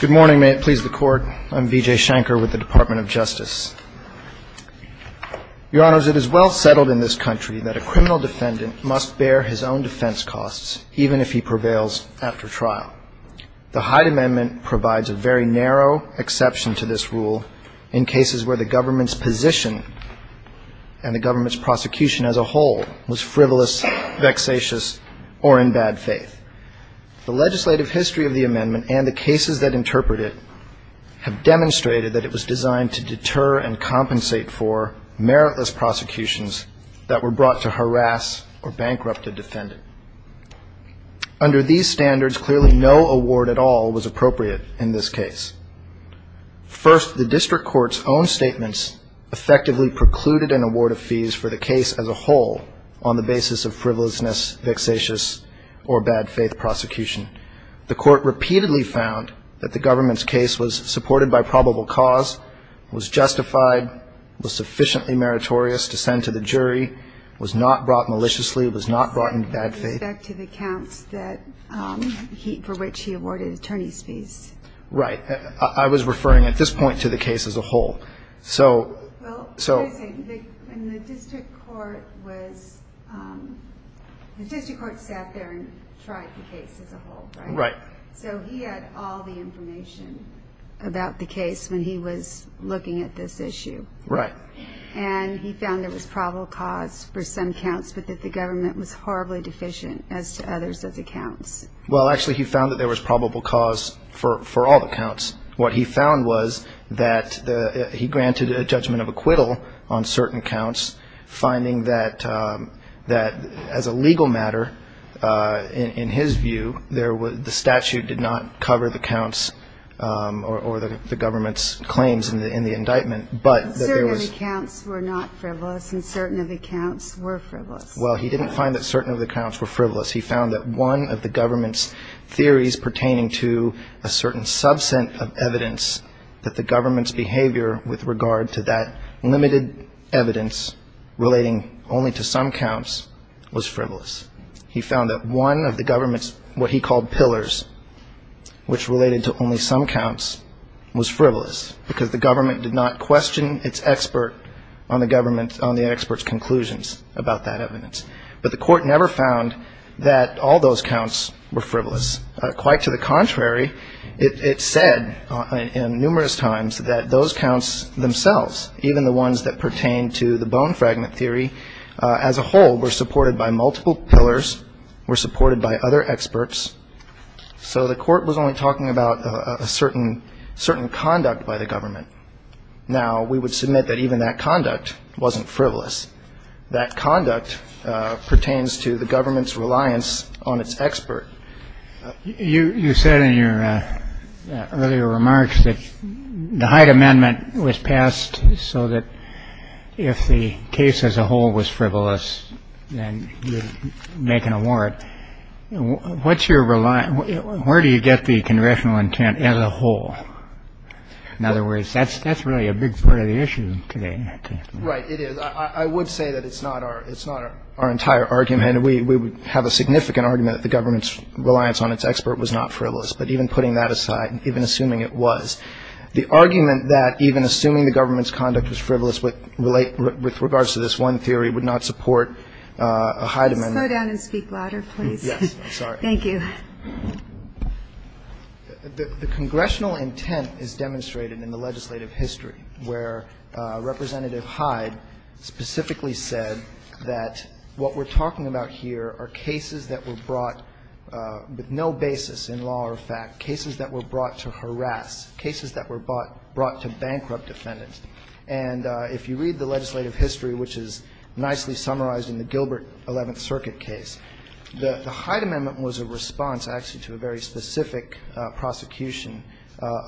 Good morning may it please the court I'm VJ Shanker with the Department of Justice your honors it is well settled in this country that a criminal defendant must bear his own defense costs even if he prevails after trial the Hyde amendment provides a very narrow exception to this rule in cases where the government's position and the government's prosecution as a whole was frivolous vexatious or in bad faith the legislative history of the amendment and the cases that interpret it have demonstrated that it was designed to deter and compensate for meritless prosecutions that were brought to harass or bankrupted defendant under these standards clearly no award at all was appropriate in this case first the district court's own statements effectively precluded an award of fees for the case as a whole on the basis of account that the government's case was supported by probable cause was justified was sufficiently meritorious to send to the jury was not brought maliciously was not brought in bad faith back to the counts that he for which he awarded attorney's fees right I was referring at this point to the case as a right so he had all the information about the case when he was looking at this issue right and he found there was probable cause for some counts but that the government was horribly deficient as to others as accounts well actually he found that there was probable cause for all the counts what he found was that he granted a judgment of acquittal on certain counts finding that that as a the statute did not cover the counts or the government's claims in the in the indictment but accounts were not frivolous and certain of accounts were frivolous well he didn't find that certain of the counts were frivolous he found that one of the government's theories pertaining to a certain substance of evidence that the government's behavior with regard to that limited evidence relating only to some counts was frivolous he found that one of the government's what he called pillars which related to only some counts was frivolous because the government did not question its expert on the government's on the experts conclusions about that evidence but the court never found that all those counts were frivolous quite to the contrary it said in numerous times that those counts themselves even the ones that pertain to the bone fragment theory as a whole were supported by multiple pillars were supported by other experts so the court was only talking about a certain certain conduct by the government now we would submit that even that conduct wasn't frivolous that conduct pertains to the government's reliance on its expert you you said in your earlier remarks that the Hyde amendment was passed so that if the case as a whole was frivolous and you're making a warrant what's your reliance where do you get the congressional intent as a whole in other words that's that's really a big part of the issue today right it is I would say that it's not our it's not our entire argument we we would have a significant argument that the government's reliance on its expert was not frivolous but even putting that aside even assuming it was the argument that even assuming the government's conduct was frivolous with relate with regards to this one theory would not support a Hyde amendment go down and speak louder please yes I'm sorry thank you the congressional intent is demonstrated in the legislative history where Representative Hyde specifically said that what we're talking about here are cases that were brought with no basis in law or fact cases that were brought to harass cases that were bought brought to bankrupt defendants and if you read the legislative history which is nicely summarized in the Gilbert 11th circuit case the Hyde amendment was a response actually to a very specific prosecution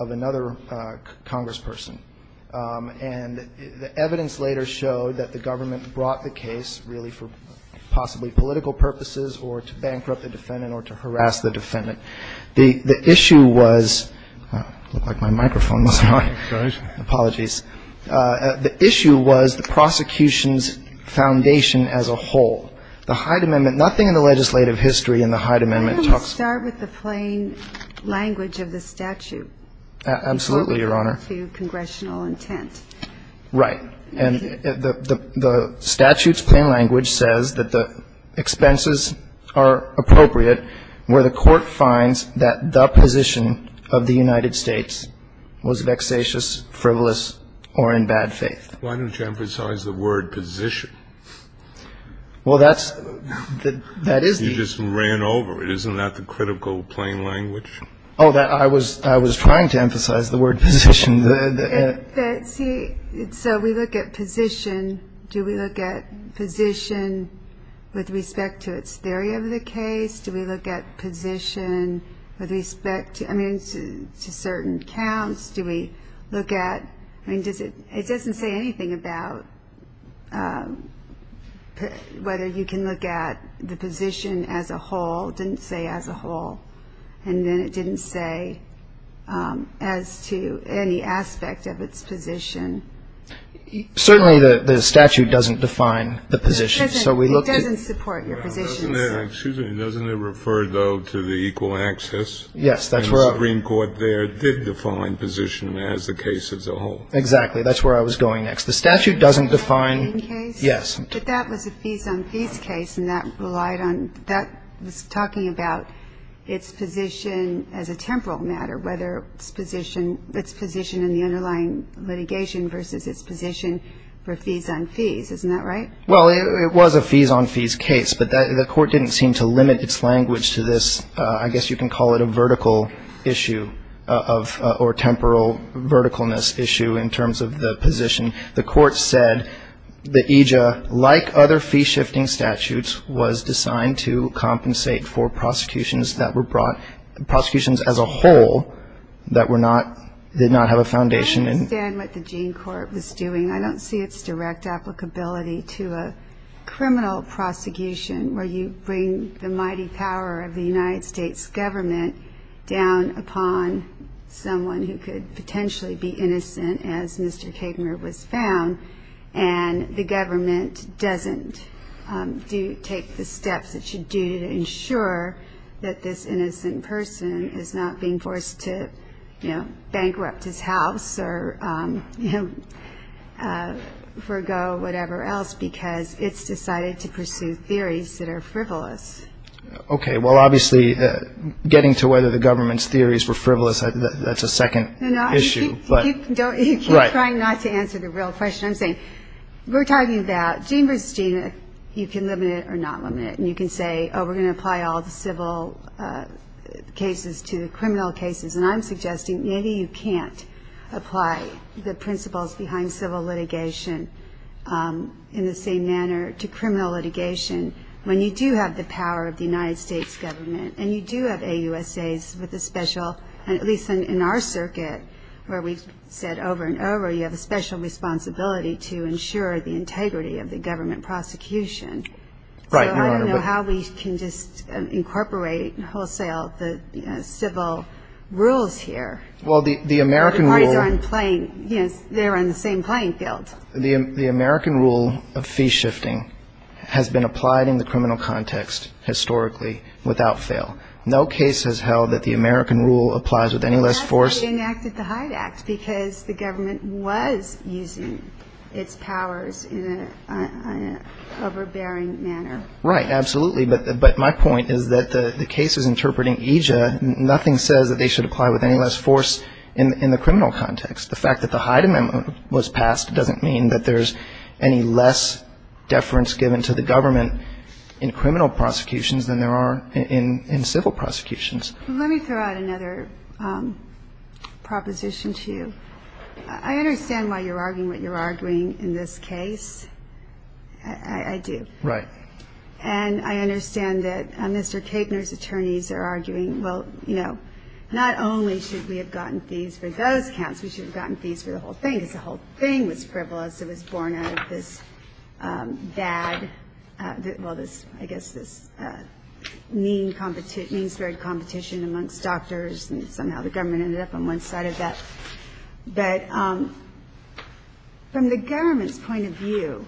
of another congressperson and the evidence later showed that the government brought the case really for possibly political purposes or to bankrupt the defendant or to harass the defendant the the issue was the prosecution's foundation as a whole the Hyde amendment nothing in the legislative history in the Hyde amendment talks start with the plain language of the statute absolutely your honor congressional intent right and the the statutes plain language says that the expenses are appropriate where the court finds that the position of the United States was vexatious frivolous or in bad faith why don't you emphasize the word position well that's that that is you just ran over it isn't that the critical plain language oh that I was I was trying to emphasize the word position that see so we look at position do we look at position with respect to its theory of the case do we look at position with respect to I mean to certain counts do we look at I mean does it it doesn't say anything about whether you can look at the position as a whole didn't say as a whole and then it didn't say as to any aspect of its position certainly the statute doesn't define the position so we look at doesn't support your position doesn't it refer though to the equal access yes that's where I mean court there did define position as the case as a whole exactly that's where I was going next the statute doesn't define yes but that was a piece on these case and that relied on that was talking about its position as a temporal matter whether its position its position in the underlying litigation versus its position for fees on fees isn't that right well it was a fees on fees case but that the court didn't seem to limit its language to this I guess you can call it a vertical issue of or temporal verticalness issue in terms of the position the court said the IJA like other fee shifting statutes was designed to compensate for prosecutions that were brought prosecutions as a whole that were not did not have a foundation and what the gene court was doing I don't see its direct applicability to a criminal prosecution where you bring the mighty power of the United States government down upon someone who could potentially be innocent as Mr. Kramer was found and the government doesn't do take the steps that should do to ensure that this innocent person is not being forced to bankrupt his house or forgo whatever else because it's decided to pursue theories that are frivolous okay well obviously getting to whether the government's theories were frivolous that's a second issue but you keep trying not to answer the real question I'm saying we're talking about gene versus gene you can limit it or not limit it and you can say oh we're going to apply all the civil cases to the criminal cases and I'm suggesting maybe you can't apply the principles behind civil litigation in the same manner to criminal litigation when you do have the power of the United States government and you do have a USA's with a special and at least in our circuit where we've said over and over you have a special responsibility to ensure the integrity of the government prosecution right I don't know how we can just incorporate wholesale the civil rules here well the American playing yes they're on the same playing field the American rule of fee shifting has been applied in the criminal context historically without fail no case has held that the American rule applies with any less force because the government was using its powers in an overbearing manner right absolutely but my point is that the case is interpreting Aja nothing says that they should apply with any less force in the criminal context the fact that the Hyde amendment was passed doesn't mean that there's any less deference given to the government in the criminal context than there is in the civil context. Let me throw out another proposition to you. I understand why you're arguing what you're arguing in this case. I do. Right. And I understand that Mr. Kaganer's attorneys are arguing well you know not only should we have gotten fees for those counts we should have gotten fees for the whole thing because the whole thing was frivolous it was born out of this bad well this I guess this mean spirit competition amongst doctors and somehow the government ended up on one side of that. But from the government's point of view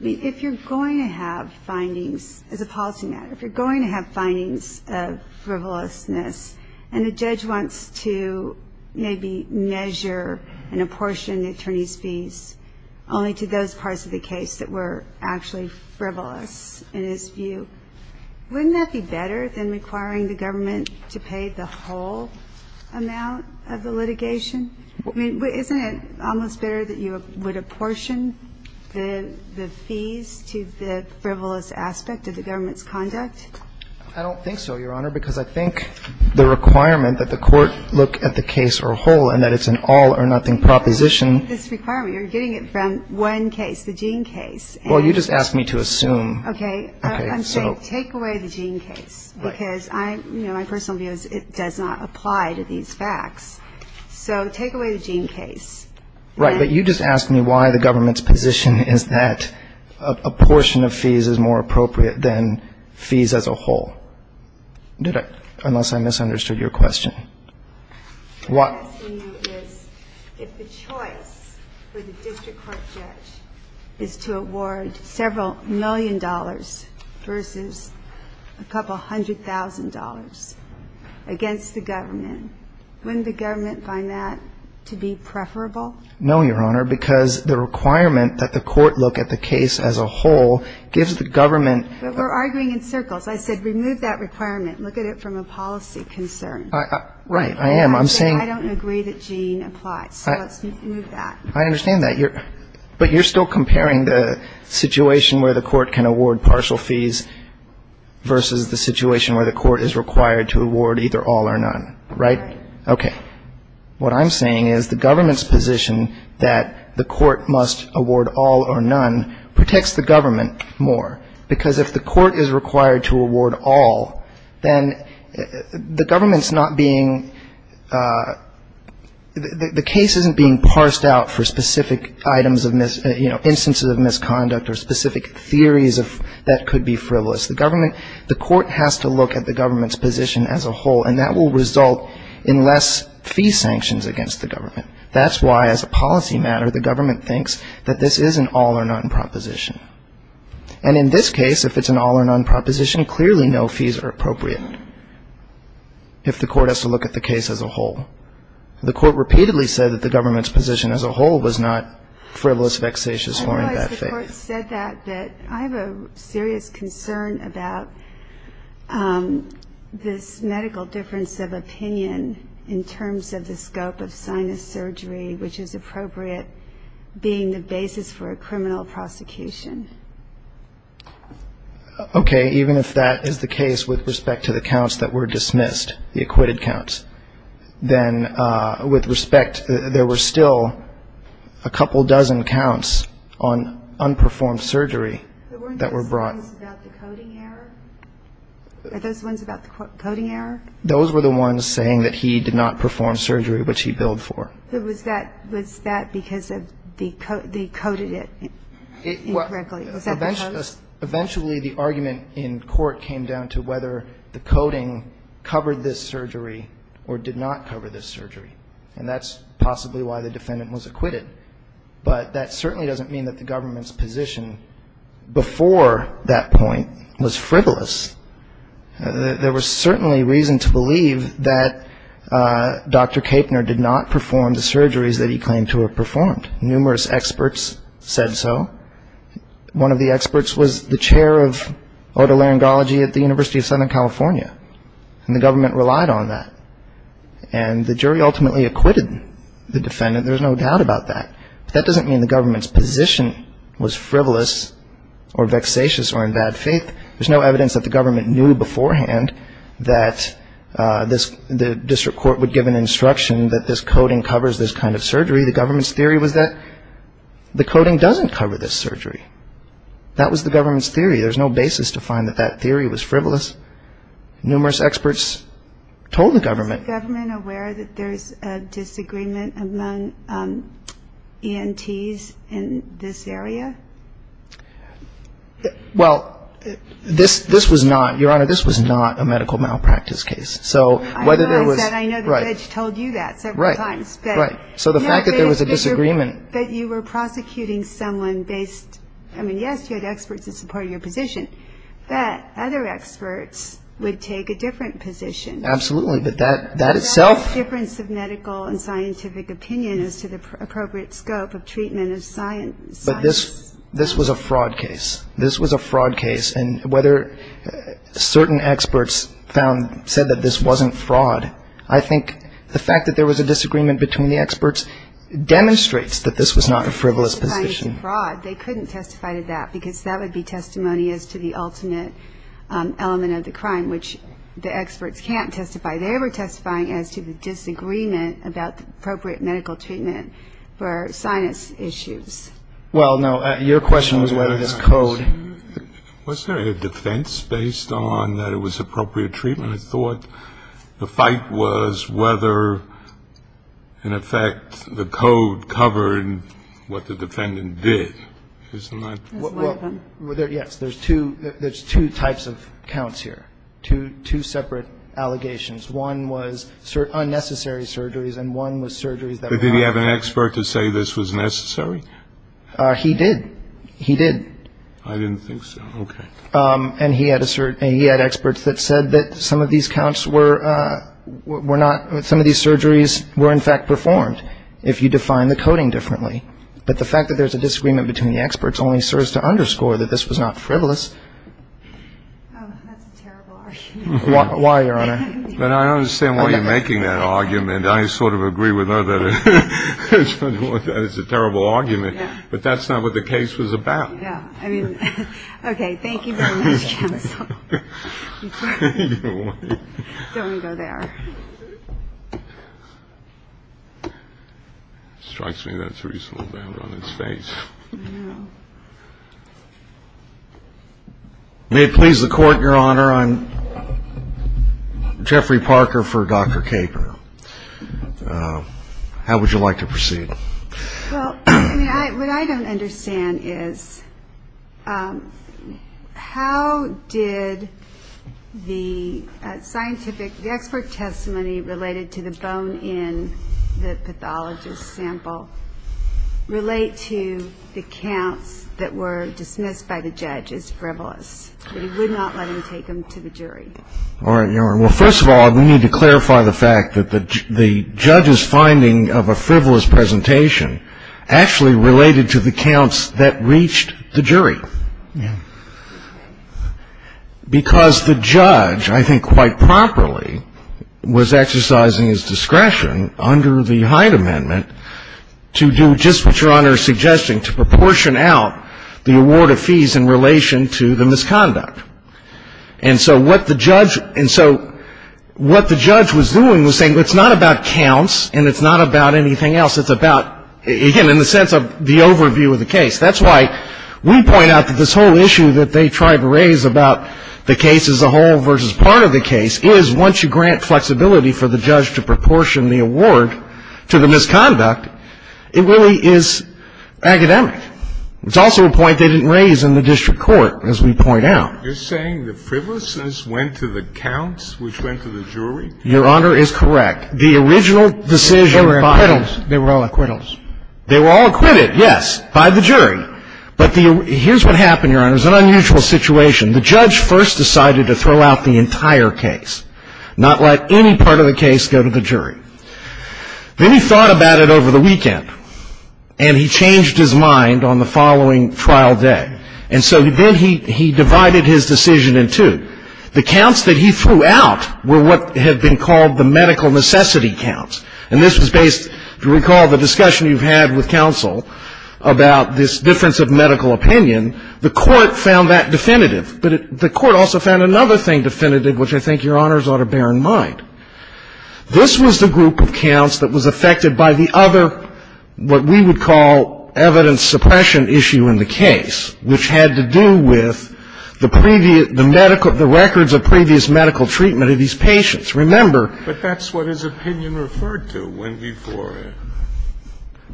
if you're going to have findings as a policy matter if you're going to have findings of frivolousness and the judge wants to maybe measure and apportion the attorney's fees only to those parties of the case that were actually frivolous in his view wouldn't that be better than requiring the government to pay the whole amount of the litigation. I mean isn't it almost better that you would apportion the fees to the frivolous aspect of the government's conduct. I don't think so Your Honor because I think the requirement that the court look at the case or whole and that it's an all or none case is that it's a gene case. Well you just asked me to assume. Okay I'm saying take away the gene case because my personal view is it does not apply to these facts. So take away the gene case. Right but you just asked me why the government's position is that apportion of fees is more appropriate than fees as a whole. Did I unless I misunderstood your question. No Your Honor because the requirement that the court look at the case as a whole gives the government. But we're arguing in circles. I said remove that requirement. Look at it from a policy concern. Right I am. I'm saying. I don't agree that gene applies. So let's move that. I understand that. But you're still comparing it to a policy concern. You're comparing the situation where the court can award partial fees versus the situation where the court is required to award either all or none. Right. Okay what I'm saying is the government's position that the court must award all or none protects the government more because if the court is required to award all then the government's not being the case isn't being parsed out for specific items of mis you know instances of misconduct or specific theories of that could be frivolous. The government the court has to look at the government's position as a whole and that will result in less fee sanctions against the government. That's why as a policy matter the government thinks that this is an all or none proposition. And in this case if it's an all or none proposition clearly no fees are appropriate. If the court has to look at the case as a whole. It's not frivolous, vexatious or in bad faith. I realize the court said that but I have a serious concern about this medical difference of opinion in terms of the scope of sinus surgery which is appropriate being the basis for a criminal prosecution. Okay. Even if that is the case with respect to the counts that were dismissed, the acquitted counts, then with respect there were still a couple dozen counts on unperformed surgery that were brought. Are those ones about the coding error? Those were the ones saying that he did not perform surgery which he billed for. Was that because they coded it incorrectly? Eventually the argument in court came down to whether the coding covered this surgery or did not cover this surgery and that's possibly why the defendant was acquitted. But that certainly doesn't mean that the government's position before that point was frivolous. There was certainly reason to believe that Dr. Kaepner did not perform the surgeries that he claimed to have performed. Numerous experts said so. One of the experts was the chair of otolaryngology at the University of Southern California and the government relied on that. And the jury ultimately acquitted the defendant. There's no doubt about that. But that doesn't mean the government's position was frivolous or vexatious or in bad faith. There's no evidence that the government knew beforehand that the district court would give an instruction that this coding covers this kind of surgery. The government's theory was that the coding doesn't cover this surgery. That was the government's theory. There's no basis to find that that theory was frivolous. Numerous experts told the government. Was the government aware that there's a disagreement among ENTs in this area? Well, this was not, Your Honor, this was not a medical malpractice case. I know the judge told you that several times. Right. So the fact that there was a disagreement. But you were prosecuting someone based, I mean, yes, you had experts in support of your position. But other experts would take a different position. Absolutely. But that itself. The difference of medical and scientific opinion as to the appropriate scope of treatment of science. But this this was a fraud case. This was a fraud case. And whether certain experts found said that this wasn't fraud. I think the fact that there was a disagreement between the experts demonstrates that this was not a frivolous position. They couldn't testify to that because that would be testimony as to the ultimate element of the crime, which the experts can't testify. They were testifying as to the disagreement about the appropriate medical treatment for sinus issues. Well, no. Your question was whether this code. Was there a defense based on that it was appropriate treatment? I thought the fight was whether, in effect, the code covered what the defendant did. Isn't that right? Yes. There's two there's two types of counts here to two separate allegations. One was unnecessary surgeries and one was surgeries that we have an expert to say this was necessary. He did. He did. I didn't think so. And he had a certain he had experts that said that some of these counts were not some of these surgeries were in fact performed. If you define the coding differently. But the fact that there's a disagreement between the experts only serves to underscore that this was not frivolous. That's a terrible argument. But I don't understand why you're making that argument. I sort of agree with her that it's a terrible argument, but that's not what the case was about. I mean, OK, thank you. Don't go there. Strikes me that's reasonable. May it please the court. Your Honor, I'm Jeffrey Parker for Dr. Caper. How would you like to proceed? What I don't understand is how did the scientific expert testimony related to the bone in the pathologist sample relate to the counts that were dismissed by the judge as frivolous, but he would not let him take them to the jury. Well, first of all, we need to clarify the fact that the judge's finding of a frivolous presentation of the bone in the pathologist sample was not a frivolous presentation. It was a frivolous presentation because the judge, I think quite properly, was exercising his discretion under the Hyde Amendment to do just what Your Honor is suggesting, to proportion out the award of fees in relation to the misconduct. And so what the judge was doing was saying it's not about counts and it's not about anything else. It's about, again, in the sense of the overview of the case. That's why we point out that this whole issue that they try to raise about the case as a whole versus part of the case is once you grant flexibility for the judge to proportion the award to the misconduct, it really is academic. It's also a point they didn't raise in the district court, as we point out. You're saying the frivolousness went to the counts, which went to the jury? Your Honor is correct. The original decision by the jury. They were all acquittals. They were all acquitted, yes, by the jury. But here's what happened, Your Honor. It was an unusual situation. The judge first decided to throw out the entire case, not let any part of the case go to the jury. Then he thought about it over the weekend, and he changed his mind on the following trial day. And so then he divided his decision in two. The counts that he threw out were what had been called the medical necessity counts. And this was based, if you recall, the discussion you've had with counsel about this difference of medical opinion. The court found that definitive. But the court also found another thing definitive, which I think Your Honors ought to bear in mind. This was the group of counts that was affected by the other what we would call evidence suppression issue in the case, which had to do with the previous, the medical, the records of previous medical treatment of these patients. Remember. But that's what his opinion referred to when he for it.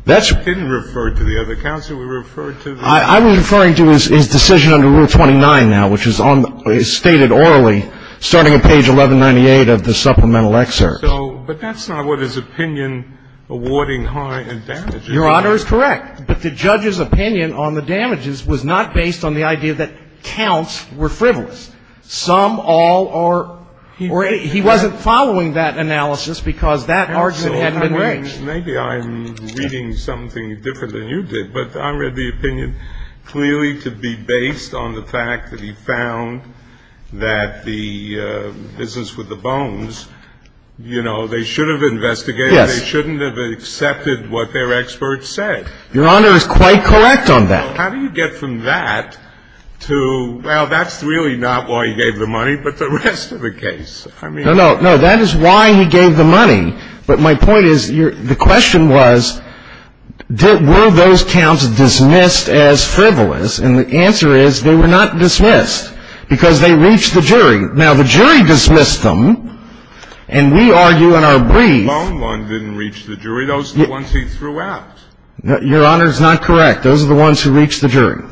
That's. He didn't refer to the other counts. He referred to the. I'm referring to his decision under Rule 29 now, which is on, is stated orally, starting at page 1198 of the supplemental excerpt. So, but that's not what his opinion awarding high and damaging. Your Honor is correct. But the judge's opinion on the damages was not based on the idea that counts were frivolous. Some, all, or he wasn't following that analysis because that argument hadn't been raised. Maybe I'm reading something different than you did, but I read the opinion clearly to be based on the fact that he found that the business with the bones, you know, they should have investigated. Yes. They shouldn't have accepted what their experts said. Your Honor is quite correct on that. Well, how do you get from that to, well, that's really not why he gave the money, but the rest of the case. I mean. No, no, no. That is why he gave the money. But my point is, the question was, were those counts dismissed as frivolous? And the answer is they were not dismissed because they reached the jury. Now, the jury dismissed them, and we argue in our brief. Lone Lone didn't reach the jury. Were those the ones he threw out? Your Honor is not correct. Those are the ones who reached the jury.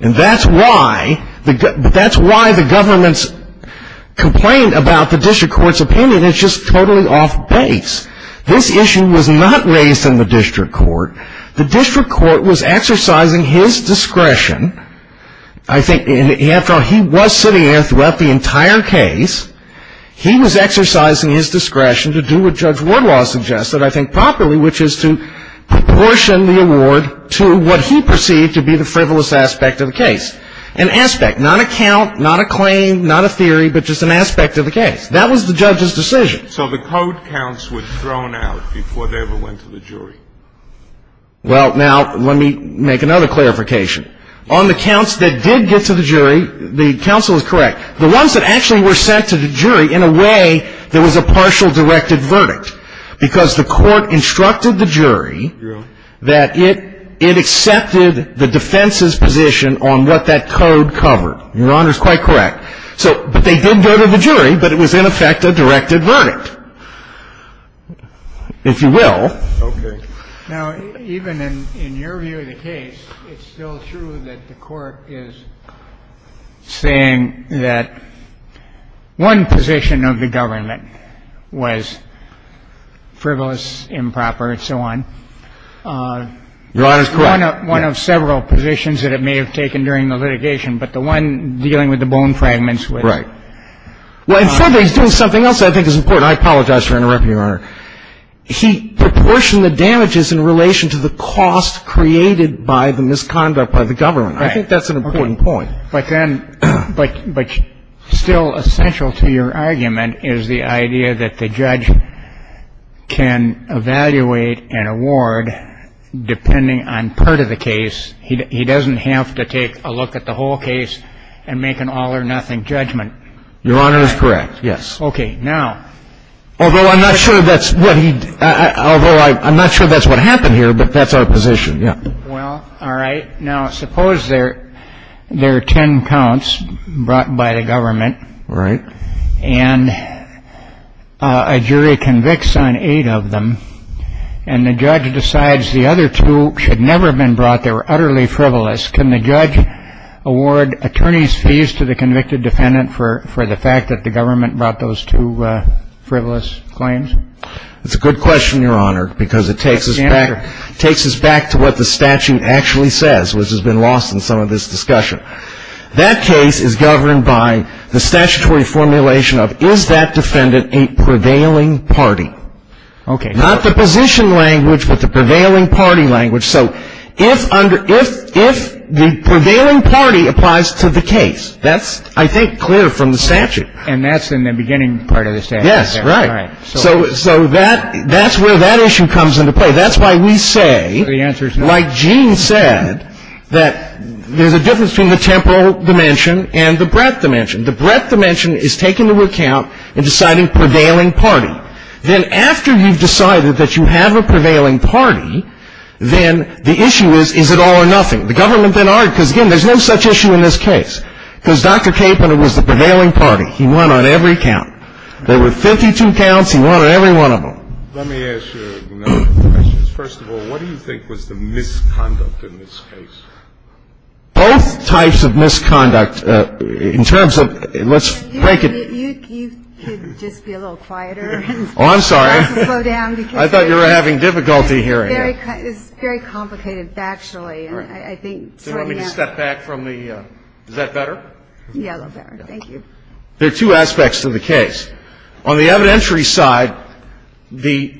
And that's why the government's complaint about the district court's opinion is just totally off base. This issue was not raised in the district court. The district court was exercising his discretion. I think, after all, he was sitting there throughout the entire case. He was exercising his discretion to do what Judge Wardlaw suggested, I think, properly, which is to proportion the award to what he perceived to be the frivolous aspect of the case. An aspect, not a count, not a claim, not a theory, but just an aspect of the case. That was the judge's decision. So the code counts were thrown out before they ever went to the jury. Well, now, let me make another clarification. On the counts that did get to the jury, the counsel is correct. The ones that actually were sent to the jury, in a way, there was a partial directed verdict because the court instructed the jury that it accepted the defense's position on what that code covered. Your Honor is quite correct. But they did go to the jury, but it was, in effect, a directed verdict, if you will. Okay. Now, even in your view of the case, it's still true that the court is saying that one position of the government was frivolous, improper, and so on. Your Honor is correct. One of several positions that it may have taken during the litigation, but the one dealing with the bone fragments was. Right. Well, in some ways, doing something else, I think, is important. I apologize for interrupting you, Your Honor. He proportioned the damages in relation to the cost created by the misconduct by the government. Right. I think that's an important point. Okay. But then, but still essential to your argument is the idea that the judge can evaluate an award depending on part of the case. He doesn't have to take a look at the whole case and make an all or nothing judgment. Your Honor is correct, yes. Okay. Now. Although I'm not sure that's what he, although I'm not sure that's what happened here, but that's our position. Yeah. Well, all right. Now, suppose there are ten counts brought by the government. Right. And a jury convicts on eight of them, and the judge decides the other two should never have been brought. They were utterly frivolous. Can the judge award attorney's fees to the convicted defendant for the fact that the government brought those two frivolous claims? That's a good question, Your Honor, because it takes us back to what the statute actually says, which has been lost in some of this discussion. That case is governed by the statutory formulation of is that defendant a prevailing party? Okay. Not the position language, but the prevailing party language. So if the prevailing party applies to the case, that's, I think, clear from the statute. And that's in the beginning part of the statute. Yes, right. So that's where that issue comes into play. That's why we say, like Gene said, that there's a difference between the temporal dimension and the breadth dimension. The breadth dimension is taking into account and deciding prevailing party. Then after you've decided that you have a prevailing party, then the issue is, is it all or nothing? The government then argued, because, again, there's no such issue in this case. Because Dr. Capon was the prevailing party. He won on every count. There were 52 counts. He won on every one of them. Let me ask you a number of questions. First of all, what do you think was the misconduct in this case? Both types of misconduct. In terms of, let's break it. You could just be a little quieter. Oh, I'm sorry. Slow down. I thought you were having difficulty hearing me. It's very complicated factually. All right. So let me step back from the, is that better? Yeah, a little better. Thank you. There are two aspects to the case. On the evidentiary side, the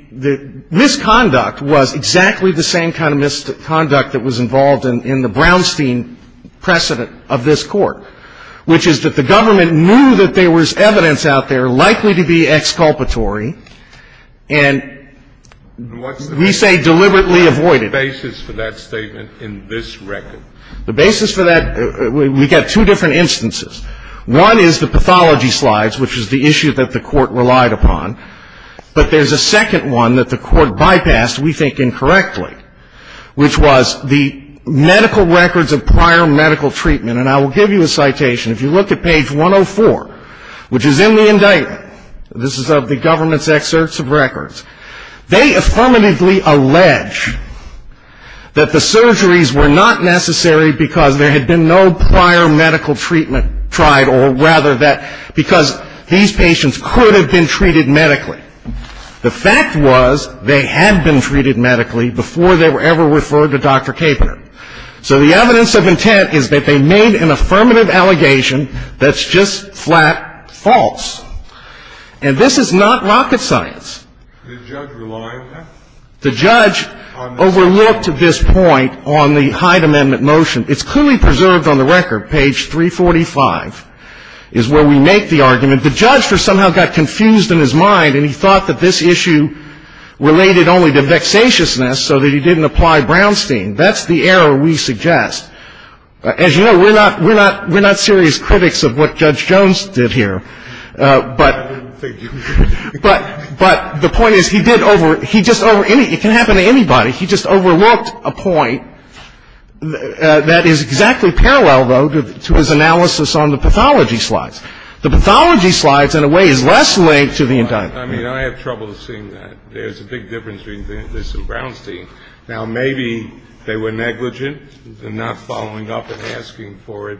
misconduct was exactly the same kind of misconduct that was involved in the Brownstein precedent of this Court, which is that the government knew that there was evidence out there likely to be exculpatory and, we say, deliberately avoided. What's the basis for that statement in this record? The basis for that, we've got two different instances. One is the pathology slides, which is the issue that the Court relied upon. But there's a second one that the Court bypassed, we think, incorrectly, which was the medical records of prior medical treatment. And I will give you a citation. If you look at page 104, which is in the indictment, this is of the government's excerpts of records, they affirmatively allege that the surgeries were not necessary because there had been no prior medical treatment tried or rather that because these patients could have been treated medically. The fact was they had been treated medically before they were ever referred to Dr. Kapanen. So the evidence of intent is that they made an affirmative allegation that's just flat false. And this is not rocket science. The judge overlooked this point on the Hyde Amendment motion. It's clearly preserved on the record. Page 345 is where we make the argument. The judge somehow got confused in his mind and he thought that this issue related only to vexatiousness so that he didn't apply Brownstein. That's the error we suggest. As you know, we're not serious critics of what Judge Jones did here. But the point is he did over – he just over – it can happen to anybody. He just overlooked a point that is exactly parallel, though, to his analysis on the pathology slides. The pathology slides, in a way, is less linked to the indictment. I mean, I have trouble seeing that. There's a big difference between this and Brownstein. Now, maybe they were negligent in not following up and asking for it.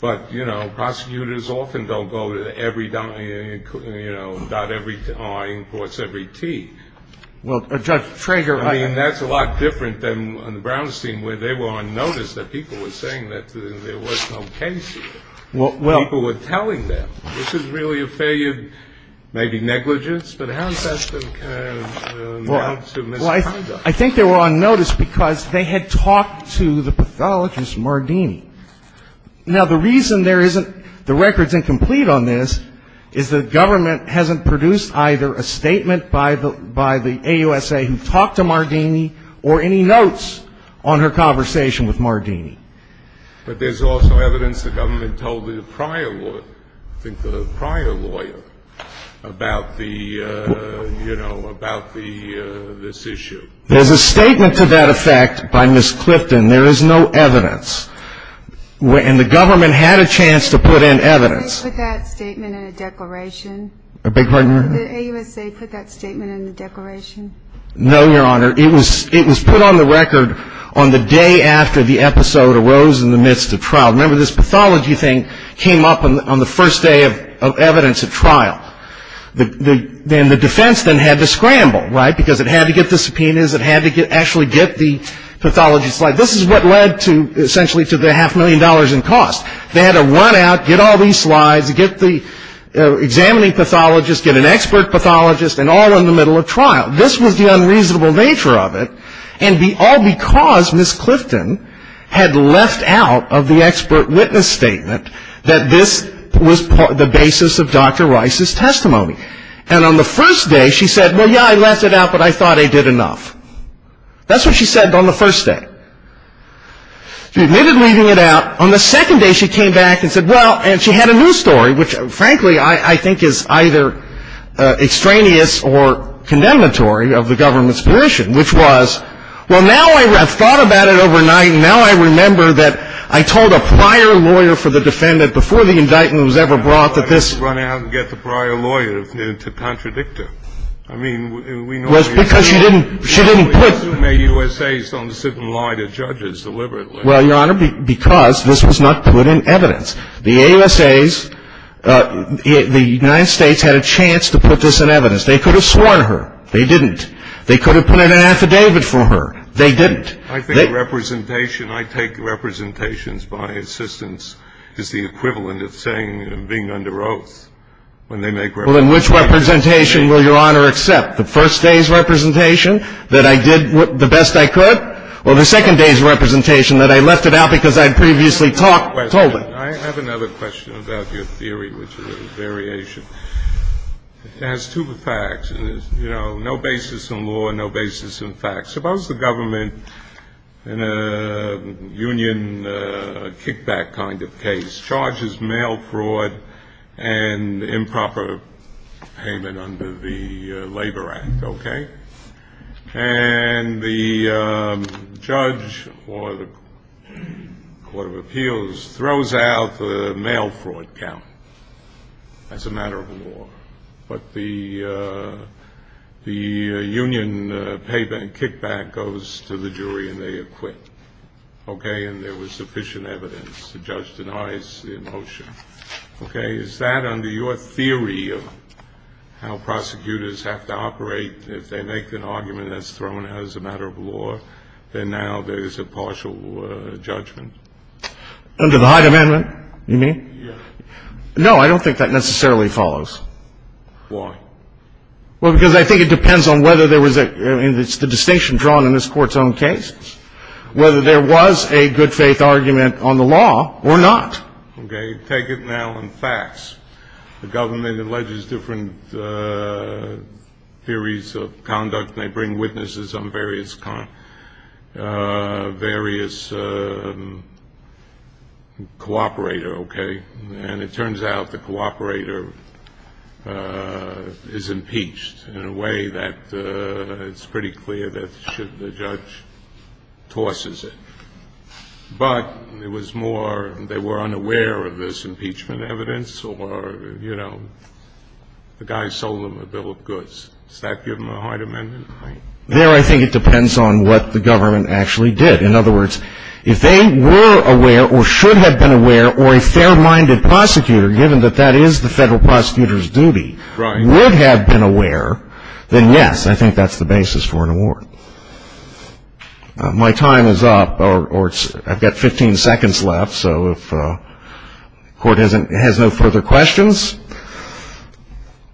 But, you know, prosecutors often don't go to every – you know, dot every R in quotes every T. Well, Judge Trager – I mean, that's a lot different than on the Brownstein where they were on notice that people were saying that there was no case here. Well – People were telling them. This is really a failure, maybe negligence, but how does that compare now to misconduct? Well, I think they were on notice because they had talked to the pathologist, Mardini. Now, the reason there isn't – the record's incomplete on this is the government hasn't produced either a statement by the – by the AUSA who talked to Mardini or any notes on her conversation with Mardini. But there's also evidence the government told the prior – I think the prior lawyer about the – you know, about the – this issue. There's a statement to that effect by Ms. Clifton. There is no evidence. And the government had a chance to put in evidence. Did they put that statement in a declaration? I beg your pardon? Did the AUSA put that statement in the declaration? No, Your Honor. It was put on the record on the day after the episode arose in the midst of trial. Remember, this pathology thing came up on the first day of evidence at trial. Then the defense then had to scramble, right, because it had to get the subpoenas. It had to actually get the pathology slide. This is what led to – essentially to the half million dollars in cost. They had to run out, get all these slides, get the examining pathologist, get an expert pathologist, and all in the middle of trial. This was the unreasonable nature of it, and all because Ms. Clifton had left out of the expert witness statement that this was the basis of Dr. Rice's testimony. And on the first day, she said, well, yeah, I left it out, but I thought I did enough. That's what she said on the first day. She admitted leaving it out. On the second day, she came back and said, well – and she had a new story, which, frankly, I think is either extraneous or condemnatory of the government's position, which was, well, now I have thought about it overnight, and now I remember that I told a prior lawyer for the defendant before the indictment was ever brought that this – I didn't run out and get the prior lawyer to contradict her. I mean, we know – Because she didn't – she didn't put – We assume that USA's don't sit and lie to judges deliberately. Well, Your Honor, because this was not put in evidence. The USA's – the United States had a chance to put this in evidence. They could have sworn her. They didn't. They could have put in an affidavit for her. They didn't. I think representation – I take representations by assistance as the equivalent of saying I'm being under oath when they make representations. Well, then which representation will Your Honor accept? The first day's representation, that I did the best I could? Well, the second day's representation that I left it out because I had previously talked – told it. I have another question about your theory, which is a variation. It has two facts. You know, no basis in law, no basis in fact. Suppose the government, in a union kickback kind of case, charges mail fraud and improper payment under the Labor Act, okay? And the judge or the court of appeals throws out the mail fraud count as a matter of law. But the union kickback goes to the jury and they acquit, okay? And there was sufficient evidence. The judge denies the motion. Okay. Is that under your theory of how prosecutors have to operate if they make an argument that's thrown out as a matter of law, that now there is a partial judgment? Under the Hyde Amendment? You mean? Yes. No, I don't think that necessarily follows. Why? Well, because I think it depends on whether there was a – it's the distinction drawn in this Court's own case, whether there was a good faith argument on the law or not. Okay. Take it now in facts. The government alleges different theories of conduct. They bring witnesses on various cooperator, okay? And it turns out the cooperator is impeached in a way that it's pretty clear that the judge tosses it. But it was more they were unaware of this impeachment evidence or, you know, the guy sold them a bill of goods. Does that give them a Hyde Amendment? There I think it depends on what the government actually did. In other words, if they were aware or should have been aware or a fair-minded prosecutor, given that that is the federal prosecutor's duty, would have been aware, then yes, I think that's the basis for an award. My time is up, or I've got 15 seconds left. So if the Court has no further questions.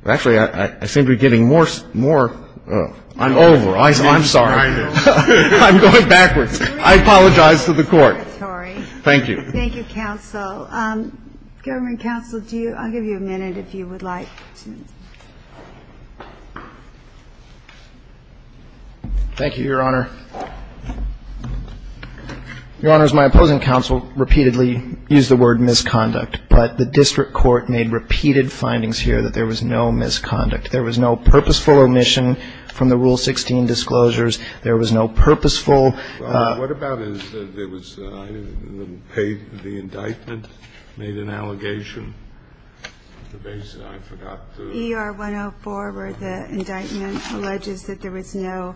Actually, I seem to be getting more – I'm over. I'm sorry. I'm going backwards. I apologize to the Court. Thank you. Thank you, counsel. Government counsel, do you – I'll give you a minute if you would like to. Thank you, Your Honor. Your Honors, my opposing counsel repeatedly used the word misconduct, but the district court made repeated findings here that there was no misconduct. There was no purposeful omission from the Rule 16 disclosures. There was no purposeful – made an allegation. ER 104, where the indictment alleges that there was no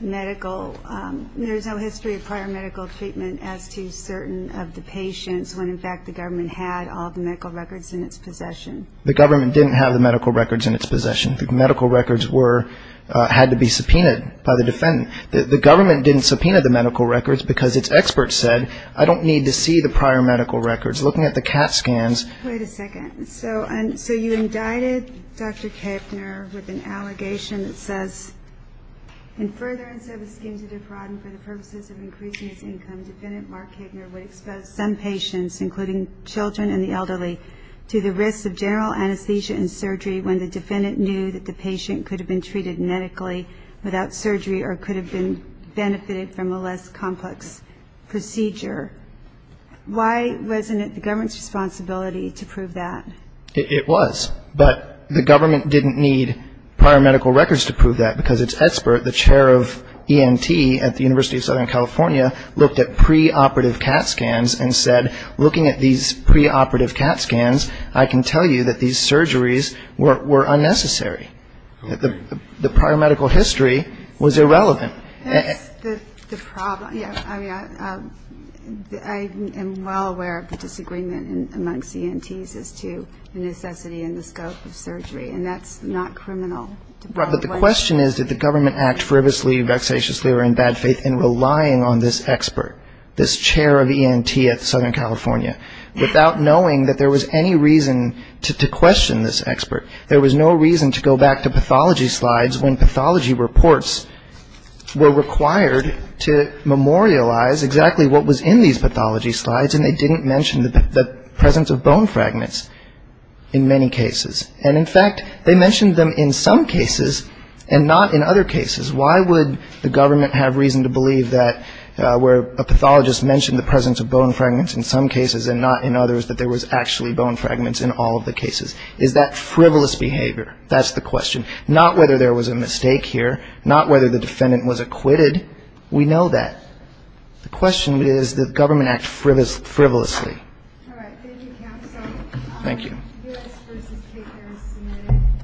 medical – there's no history of prior medical treatment as to certain of the patients when, in fact, the government had all the medical records in its possession. The government didn't have the medical records in its possession. The medical records were – had to be subpoenaed by the defendant. The government didn't subpoena the medical records because its experts said, I don't need to see the prior medical records. Looking at the CAT scans – Wait a second. So you indicted Dr. Kaepner with an allegation that says, in furtherance of a scheme to defraud him for the purposes of increasing his income, Defendant Mark Kaepner would expose some patients, including children and the elderly, to the risks of general anesthesia and surgery when the defendant knew that the patient could have been treated medically without surgery or could have been benefited from a less complex procedure. Why wasn't it the government's responsibility to prove that? It was. But the government didn't need prior medical records to prove that because its expert, the chair of ENT at the University of Southern California, looked at preoperative CAT scans and said, looking at these preoperative CAT scans, I can tell you that these surgeries were unnecessary. The prior medical history was irrelevant. That's the problem. I mean, I am well aware of the disagreement amongst ENTs as to the necessity and the scope of surgery, and that's not criminal. But the question is, did the government act frivolously, vexatiously, or in bad faith in relying on this expert, this chair of ENT at Southern California, without knowing that there was any reason to question this expert? There was no reason to go back to pathology slides when pathology reports were required to memorialize exactly what was in these pathology slides, and they didn't mention the presence of bone fragments in many cases. And, in fact, they mentioned them in some cases and not in other cases. Why would the government have reason to believe that where a pathologist mentioned the presence of bone fragments in some cases and not in others, that there was actually bone fragments in all of the cases? Is that frivolous behavior? That's the question. Not whether there was a mistake here. Not whether the defendant was acquitted. We know that. The question is, did the government act frivolously? All right. Thank you, counsel. Thank you. U.S. v. Kate Harris, submitted.